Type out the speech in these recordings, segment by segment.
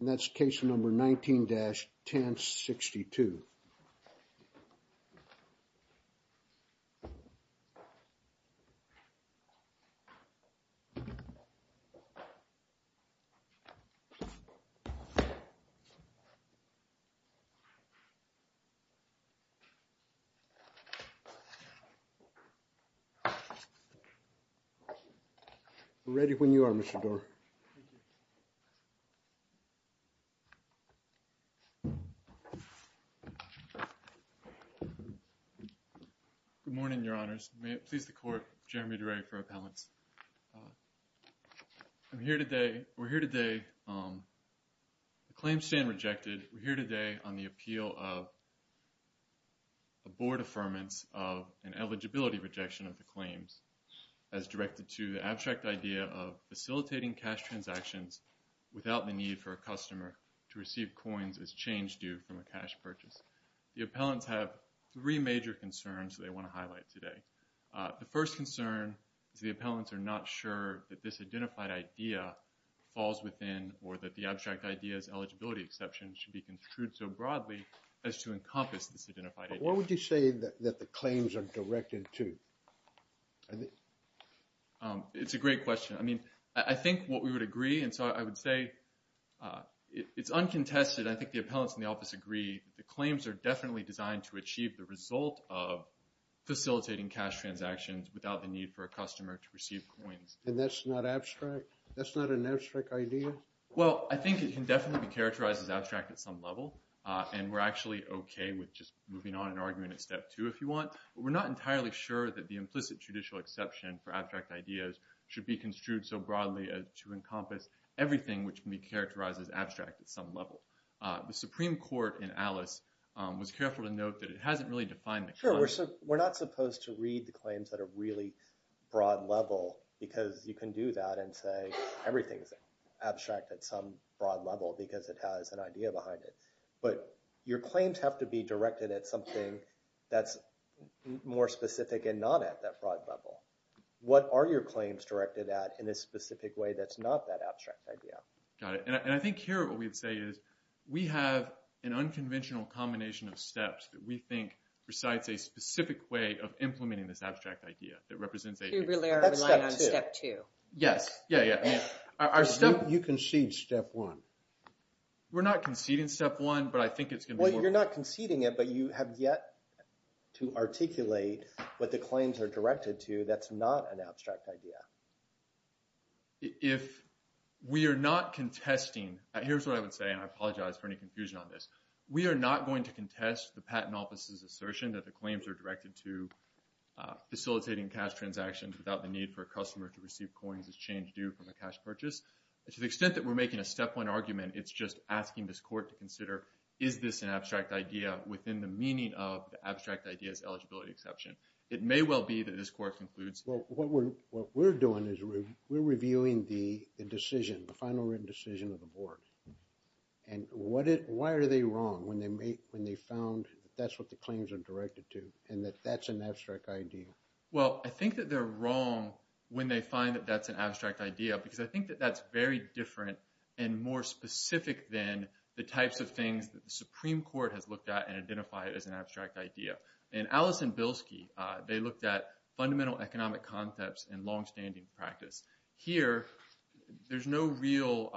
And that's case number 19-1062. We're ready when you are, Mr. Doar. Good morning, Your Honors. May it please the Court, Jeremy DeRay for Appellants. I'm here today, we're here today, the claims stand rejected, we're here today on the appeal of a Board Affirmance of an Eligibility Rejection of the Claims as directed to the abstract idea of facilitating cash transactions without the need for a customer to receive coins as change due from a cash purchase. The Appellants have three major concerns they want to highlight today. The first concern is the Appellants are not sure that this identified idea falls within or that the abstract idea's eligibility exception should be construed so broadly as to encompass this identified idea. But what would you say that the claims are directed to? It's a great question. I mean, I think what we would agree, and so I would say it's uncontested, I think the Appellants in the office agree, the claims are definitely designed to achieve the result of facilitating cash transactions without the need for a customer to receive coins. And that's not abstract? That's not an abstract idea? Well, I think it can definitely be characterized as abstract at some level, and we're actually okay with just moving on and arguing at step two if you want. But we're not entirely sure that the implicit judicial exception for abstract ideas should be construed so broadly as to encompass everything which can be characterized as abstract at some level. The Supreme Court in Alice was careful to note that it hasn't really defined the claim. Sure, we're not supposed to read the claims that are really broad level because you can do that and say everything's abstract at some broad level because it has an idea behind it. But your claims have to be directed at something that's more specific and not at that broad level. What are your claims directed at in a specific way that's not that abstract idea? Got it. And I think here what we'd say is we have an unconventional combination of steps that we think recites a specific way of implementing this abstract idea that represents a... You really are relying on step two. Yes. Yeah, yeah. Our step... You concede step one. We're not conceding step one, but I think it's going to be more... Well, you're not conceding it, but you have yet to articulate what the claims are directed to that's not an abstract idea. If we are not contesting... Here's what I would say, and I apologize for any confusion on this. We are not going to contest the patent office's assertion that the claims are directed to facilitating cash transactions without the need for a customer to receive coins as change due from a cash purchase. To the extent that we're making a step one argument, it's just asking this court to consider is this an abstract idea within the meaning of the abstract idea's eligibility exception. It may well be that this court concludes... Well, what we're doing is we're reviewing the decision, the final written decision of the board. Why are they wrong when they found that that's what the claims are directed to, and that that's an abstract idea? Well, I think that they're wrong when they find that that's an abstract idea, because I think that that's very different and more specific than the types of things that the Supreme Court has looked at and identified as an abstract idea. In Alice and Bilski, they looked at fundamental economic concepts and longstanding practice. Here, there's no real...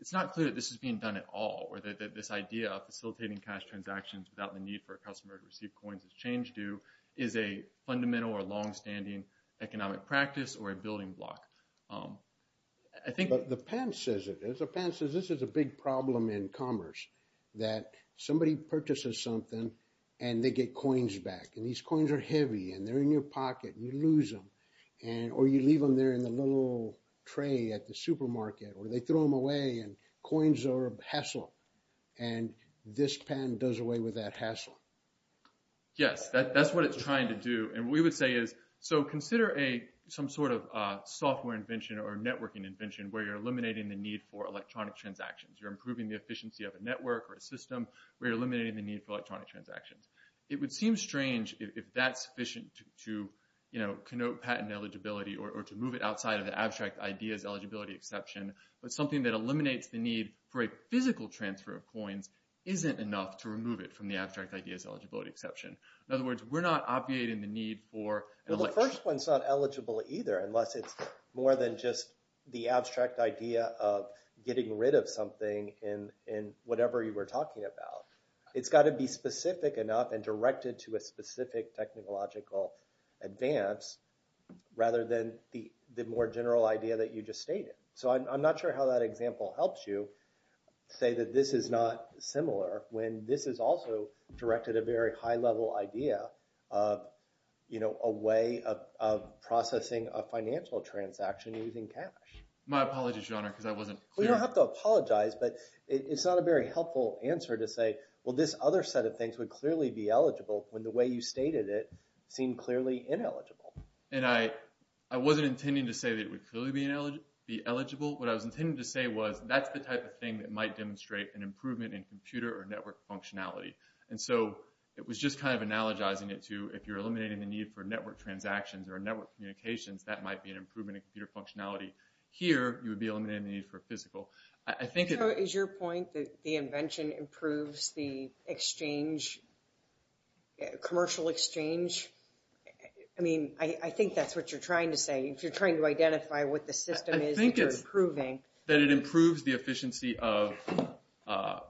It's not clear that this is being done at all, or that this idea of facilitating cash transactions without the need for a customer to receive coins as change due is a fundamental or longstanding economic practice or a building block. I think... But the patent says it. The patent says this is a big problem in commerce, that somebody purchases something and they get coins back. And these coins are heavy, and they're in your pocket, and you lose them. Or you leave them there in the little tray at the supermarket, or they throw them away, and coins are a hassle. And this patent does away with that hassle. Yes, that's what it's trying to do. And what we would say is, so consider some sort of software invention or networking invention where you're eliminating the need for electronic transactions. You're improving the efficiency of a network or a system where you're eliminating the need for electronic transactions. It would seem strange if that's sufficient to connote patent eligibility or to move it outside of the abstract ideas eligibility exception. But something that eliminates the need for a physical transfer of coins isn't enough to remove it from the abstract ideas eligibility exception. In other words, we're not obviating the need for... Well, the first one's not eligible either, unless it's more than just the abstract idea of getting rid of something in whatever you were talking about. It's got to be specific enough and directed to a specific technological advance rather than the more general idea that you just stated. So I'm not sure how that example helps you say that this is not similar when this is also directed at a very high-level idea of a way of processing a financial transaction using cash. My apologies, Your Honor, because I wasn't clear. You don't have to apologize, but it's not a very helpful answer to say, well, this other set of things would clearly be eligible when the way you stated it seemed clearly ineligible. And I wasn't intending to say that it would clearly be eligible. What I was intending to say was that's the type of thing that might demonstrate an improvement in computer or network functionality. And so it was just kind of analogizing it to if you're eliminating the need for network transactions or network communications, that might be an improvement in computer functionality. Here, you would be eliminating the need for physical. Is your point that the invention improves the commercial exchange? I mean, I think that's what you're trying to say. If you're trying to identify what the system is that you're improving. I think that it improves the efficiency of a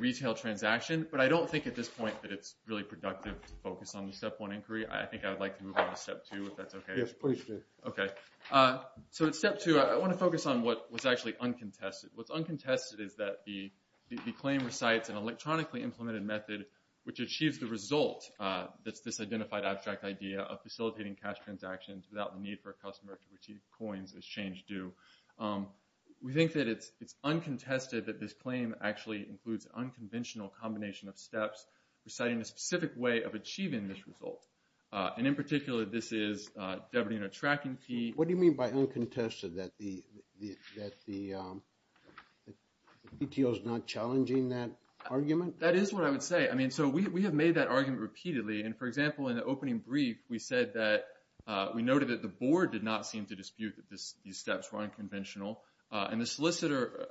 retail transaction. But I don't think at this point that it's really productive to focus on the Step 1 inquiry. I think I would like to move on to Step 2, if that's okay. Yes, please do. Okay. So in Step 2, I want to focus on what was actually uncontested. What's uncontested is that the claim recites an electronically implemented method which achieves the result that's this identified abstract idea of facilitating cash transactions without the need for a customer to retrieve coins as change do. We think that it's uncontested that this claim actually includes an unconventional combination of steps reciting a specific way of achieving this result. And in particular, this is debiting a tracking fee. What do you mean by uncontested? That the BTO is not challenging that argument? That is what I would say. I mean, so we have made that argument repeatedly. And for example, in the opening brief, we said that we noted that the board did not seem to dispute that these steps were unconventional. And the solicitor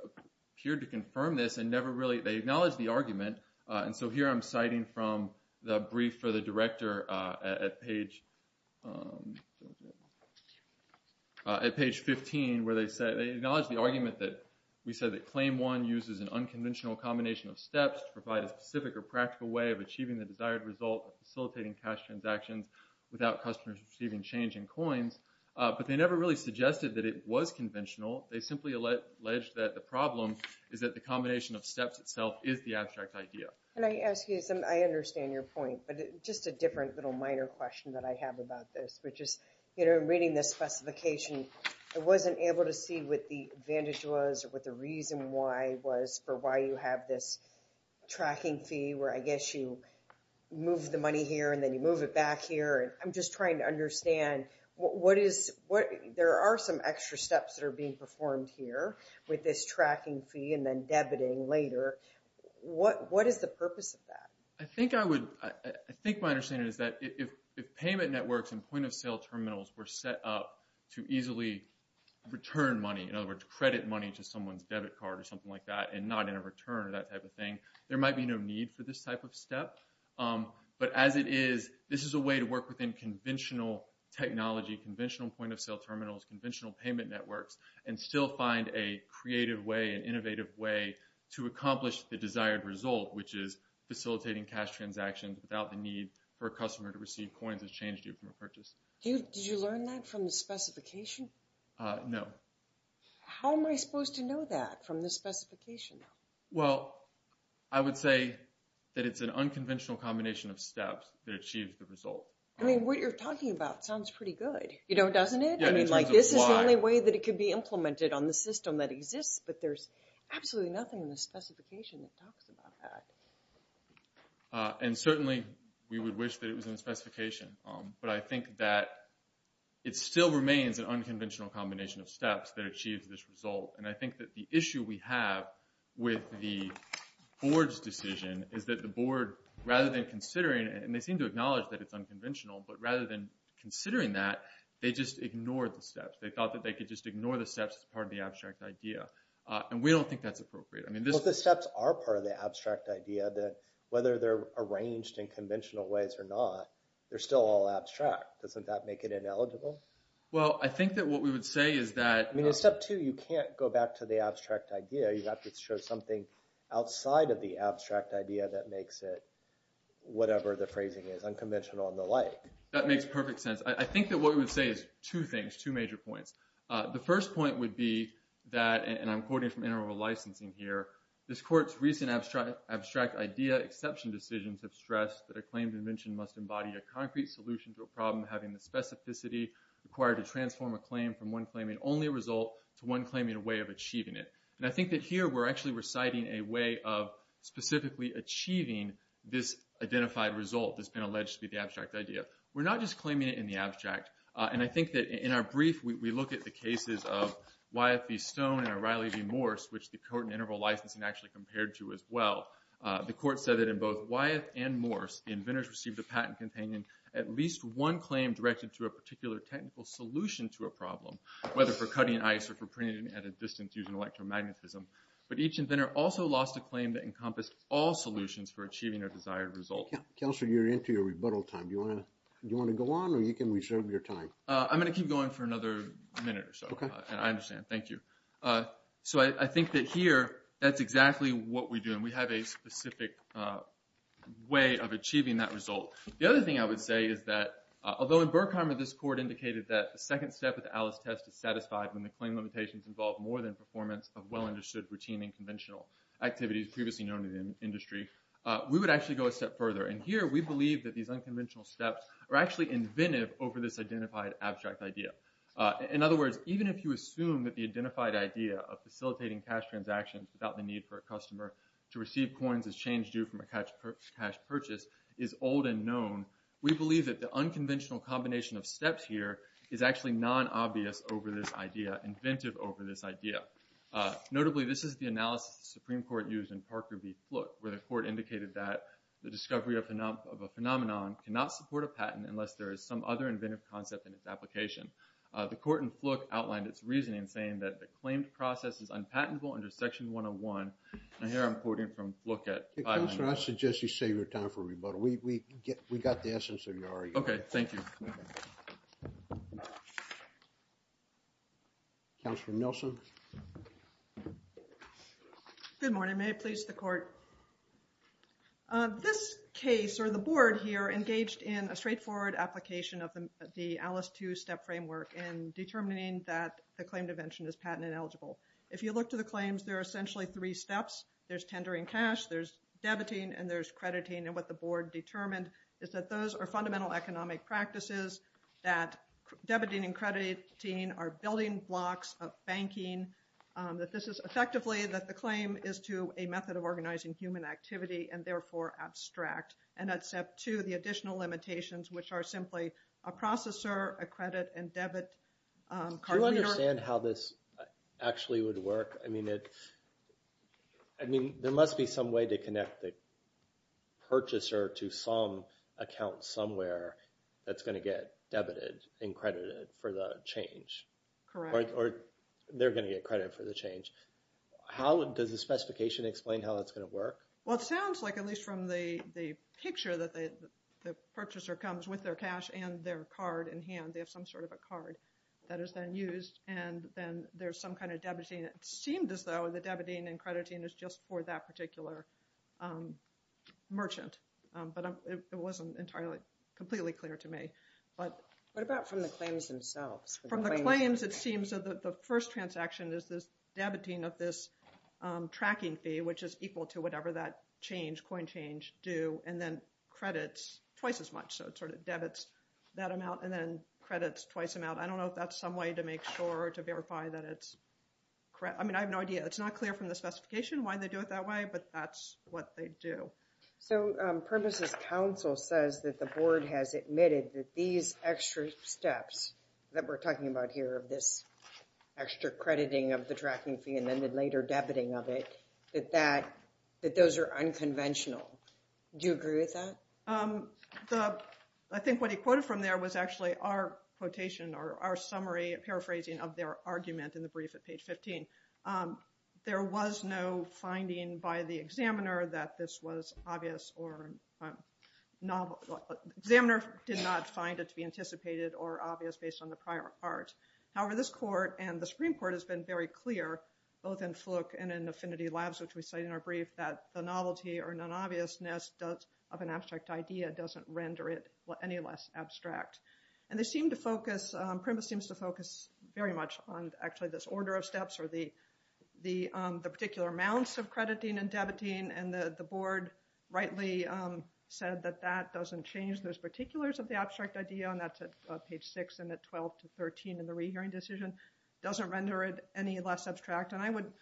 appeared to confirm this and never really – they acknowledged the argument. And so here I'm citing from the brief for the director at page – at page 15 where they said – they acknowledged the argument that we said that Claim 1 uses an unconventional combination of steps to provide a specific or practical way of achieving the desired result of facilitating cash transactions without customers receiving change in coins. But they never really suggested that it was conventional. They simply alleged that the problem is that the combination of steps itself is the abstract idea. And I ask you some – I understand your point. But just a different little minor question that I have about this, which is, you know, reading this specification, I wasn't able to see what the advantage was or what the reason why was for why you have this tracking fee where I guess you move the money here and then you move it back here. And I'm just trying to understand what is – there are some extra steps that are being performed here with this tracking fee and then debiting later. What is the purpose of that? I think I would – I think my understanding is that if payment networks and point-of-sale terminals were set up to easily return money, in other words, credit money to someone's debit card or something like that and not in a return or that type of thing, there might be no need for this type of step. But as it is, this is a way to work within conventional technology, conventional point-of-sale terminals, conventional payment networks and still find a creative way, an innovative way to accomplish the desired result, which is facilitating cash transactions without the need for a customer to receive coins as change due from a purchase. Did you learn that from the specification? No. How am I supposed to know that from the specification? Well, I would say that it's an unconventional combination of steps that achieves the result. I mean, what you're talking about sounds pretty good, you know, doesn't it? Yeah, in terms of why. I mean, like, this is the only way that it could be implemented on the system that exists, but there's absolutely nothing in the specification that talks about that. And certainly, we would wish that it was in the specification. But I think that it still remains an unconventional combination of steps that achieves this result. And I think that the issue we have with the board's decision is that the board, rather than considering it, and they seem to acknowledge that it's unconventional, but rather than considering that, they just ignored the steps. They thought that they could just ignore the steps as part of the abstract idea. And we don't think that's appropriate. I mean, this... But the steps are part of the abstract idea that whether they're arranged in conventional ways or not, they're still all abstract. Doesn't that make it ineligible? Well, I think that what we would say is that... I mean, in step two, you can't go back to the abstract idea. You have to show something outside of the abstract idea that makes it whatever the phrasing is, unconventional and the like. That makes perfect sense. I think that what we would say is two things, two major points. The first point would be that, and I'm quoting from interval licensing here, this court's recent abstract idea exception decisions have stressed that a claim dimension must embody from one claiming only a result to one claiming a way of achieving it. And I think that here, we're actually reciting a way of specifically achieving this identified result that's been alleged to be the abstract idea. We're not just claiming it in the abstract. And I think that in our brief, we look at the cases of Wyeth v. Stone and O'Reilly v. Morse, which the court in interval licensing actually compared to as well. The court said that in both Wyeth and Morse, the inventors received a patent containing at least one claim directed to a particular technical solution to a problem, whether for cutting ice or for printing at a distance using electromagnetism. But each inventor also lost a claim that encompassed all solutions for achieving a desired result. Counselor, you're into your rebuttal time. Do you want to go on, or you can reserve your time? I'm going to keep going for another minute or so. I understand. Thank you. So I think that here, that's exactly what we do. And we have a specific way of achieving that result. The other thing I would say is that, although in Berkheimer, this court indicated that the second step of the Alice test is satisfied when the claim limitations involve more than performance of well-understood routine and conventional activities previously known in the industry, we would actually go a step further. And here, we believe that these unconventional steps are actually inventive over this identified abstract idea. In other words, even if you assume that the identified idea of facilitating cash transactions without the need for a customer to receive coins as change due from a cash purchase is old and known, we believe that the unconventional combination of steps here is actually non-obvious over this idea, inventive over this idea. Notably, this is the analysis the Supreme Court used in Parker v. Fluke, where the court indicated that the discovery of a phenomenon cannot support a patent unless there is some other inventive concept in its application. The court in Fluke outlined its reasoning, saying that the claimed process is unpatentable under Section 101. And here, I'm quoting from Fluke at 590. Counselor, I suggest you save your time for rebuttal. We got the essence of your argument. Okay, thank you. Counselor Nielsen? Good morning. May it please the court. This case, or the board here, engaged in a straightforward application of the Alice II step framework in determining that the claimed invention is patent ineligible. If you look to the claims, there are essentially three steps. There's tendering cash. There's debiting. And there's crediting. And what the board determined is that those are fundamental economic practices, that debiting and crediting are building blocks of banking, that this is effectively that the claim is to a method of organizing human activity, and therefore abstract. And that's step two, the additional limitations, which are simply a processor, a credit, and debit. Do you understand how this actually would work? I mean, there must be some way to connect the purchaser to some account somewhere that's going to get debited and credited for the change. Correct. Or they're going to get credit for the change. Does the specification explain how it's going to work? Well, it sounds like, at least from the picture, that the purchaser comes with their cash and their card in hand. They have some sort of a card that is then used. And then there's some kind of debiting. It seemed as though the debiting and crediting is just for that particular merchant. But it wasn't entirely completely clear to me. What about from the claims themselves? From the claims, it seems that the first transaction is this debiting of this tracking fee, which is equal to whatever that change, coin change, due, and then credits twice as much. So it sort of debits that amount and then credits twice amount. I don't know if that's some way to make sure or to verify that it's correct. I mean, I have no idea. It's not clear from the specification why they do it that way. But that's what they do. So Purpose's counsel says that the board has admitted that these extra steps that we're talking about here of this extra crediting of the tracking fee and then the later debiting of it, that those are unconventional. Do you agree with that? I think what he quoted from there was actually our quotation or our summary paraphrasing of their argument in the brief at page 15. There was no finding by the examiner that this was obvious or novel. The examiner did not find it to be anticipated or obvious based on the prior part. However, this court and the Supreme Court has been very clear, both in Fluke and in Affinity Labs, which we cite in our brief, that the novelty or non-obviousness of an abstract idea doesn't render it any less abstract. And they seem to focus, Primus seems to focus very much on actually this order of steps or the particular amounts of crediting and debiting. And the board rightly said that that doesn't change. Those particulars of the abstract idea, and that's at page 6 and at 12 to 13 in the rehearing decision, doesn't render it any less abstract. And I would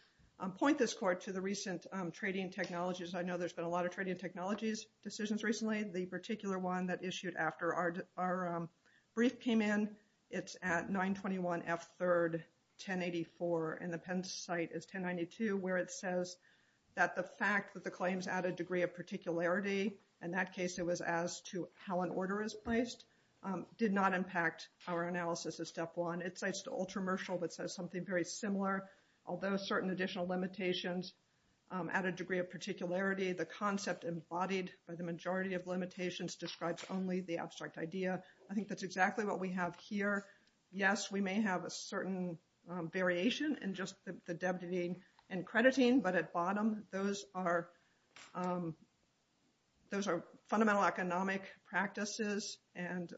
point this court to the recent trading technologies. I know there's been a lot of trading technologies decisions recently. The particular one that issued after our brief came in, it's at 921F3, 1084, and the Penn site is 1092, where it says that the fact that the claims add a degree of particularity, in that case it was as to how an order is placed, did not impact our analysis of step one. It cites the ultra-mercial, but says something very similar. Although certain additional limitations add a degree of particularity, the concept embodied by the majority of limitations describes only the abstract idea. I think that's exactly what we have here. Yes, we may have a certain variation in just the debiting and crediting, but at bottom, those are fundamental economic practices and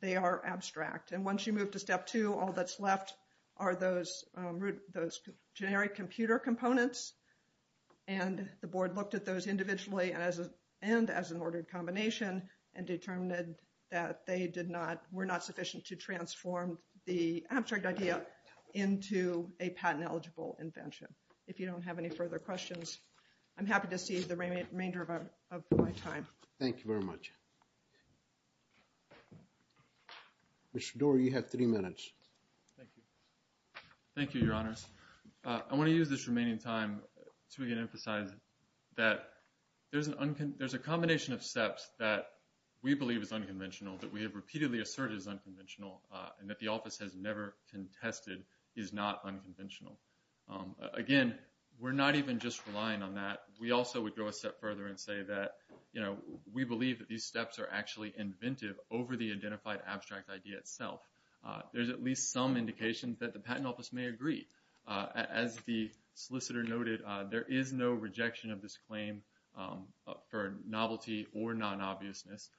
they are abstract. And once you move to step two, all that's left are those generic computer components and the board looked at those individually and as an ordered combination and determined that they were not sufficient to transform the abstract idea into a patent-eligible invention. If you don't have any further questions, I'm happy to see the remainder of my time. Thank you very much. Mr. Doherty, you have three minutes. Thank you, Your Honors. I want to use this remaining time to emphasize that there's a combination of steps that we believe is unconventional, that we have repeatedly asserted is unconventional, and that the office has never contested is not unconventional. Again, we're not even just relying on that. We also would go a step further and say that we believe that these steps are actually inventive over the identified abstract idea itself. There's at least some indication that the patent office may agree. As the solicitor noted, there is no rejection of this claim for novelty or non-obviousness.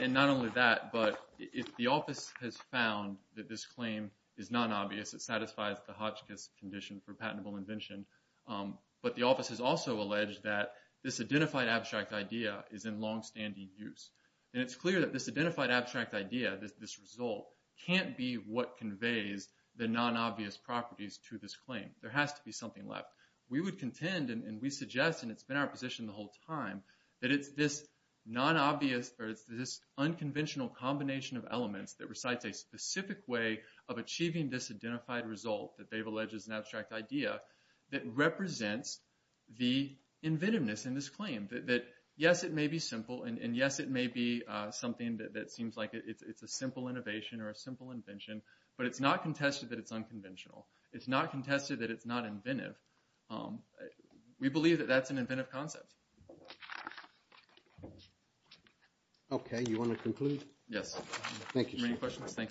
And not only that, but if the office has found that this claim is non-obvious, it satisfies the Hotchkiss condition for patentable invention. But the office has also alleged that this identified abstract idea is in long-standing use. And it's clear that this identified abstract idea, this result, can't be what conveys the non-obvious properties to this claim. There has to be something left. We would contend, and we suggest, and it's been our position the whole time, that it's this non-obvious, or it's this unconventional combination of elements that recites a specific way of achieving this identified result that Dave alleges is an abstract idea that represents the inventiveness in this claim. That, yes, it may be simple, and, yes, it may be something that seems like it's a simple innovation or a simple invention, but it's not contested that it's unconventional. It's not contested that it's not inventive. We believe that that's an inventive concept. Okay. You want to conclude? Yes. Thank you. Are there any questions? Thank you.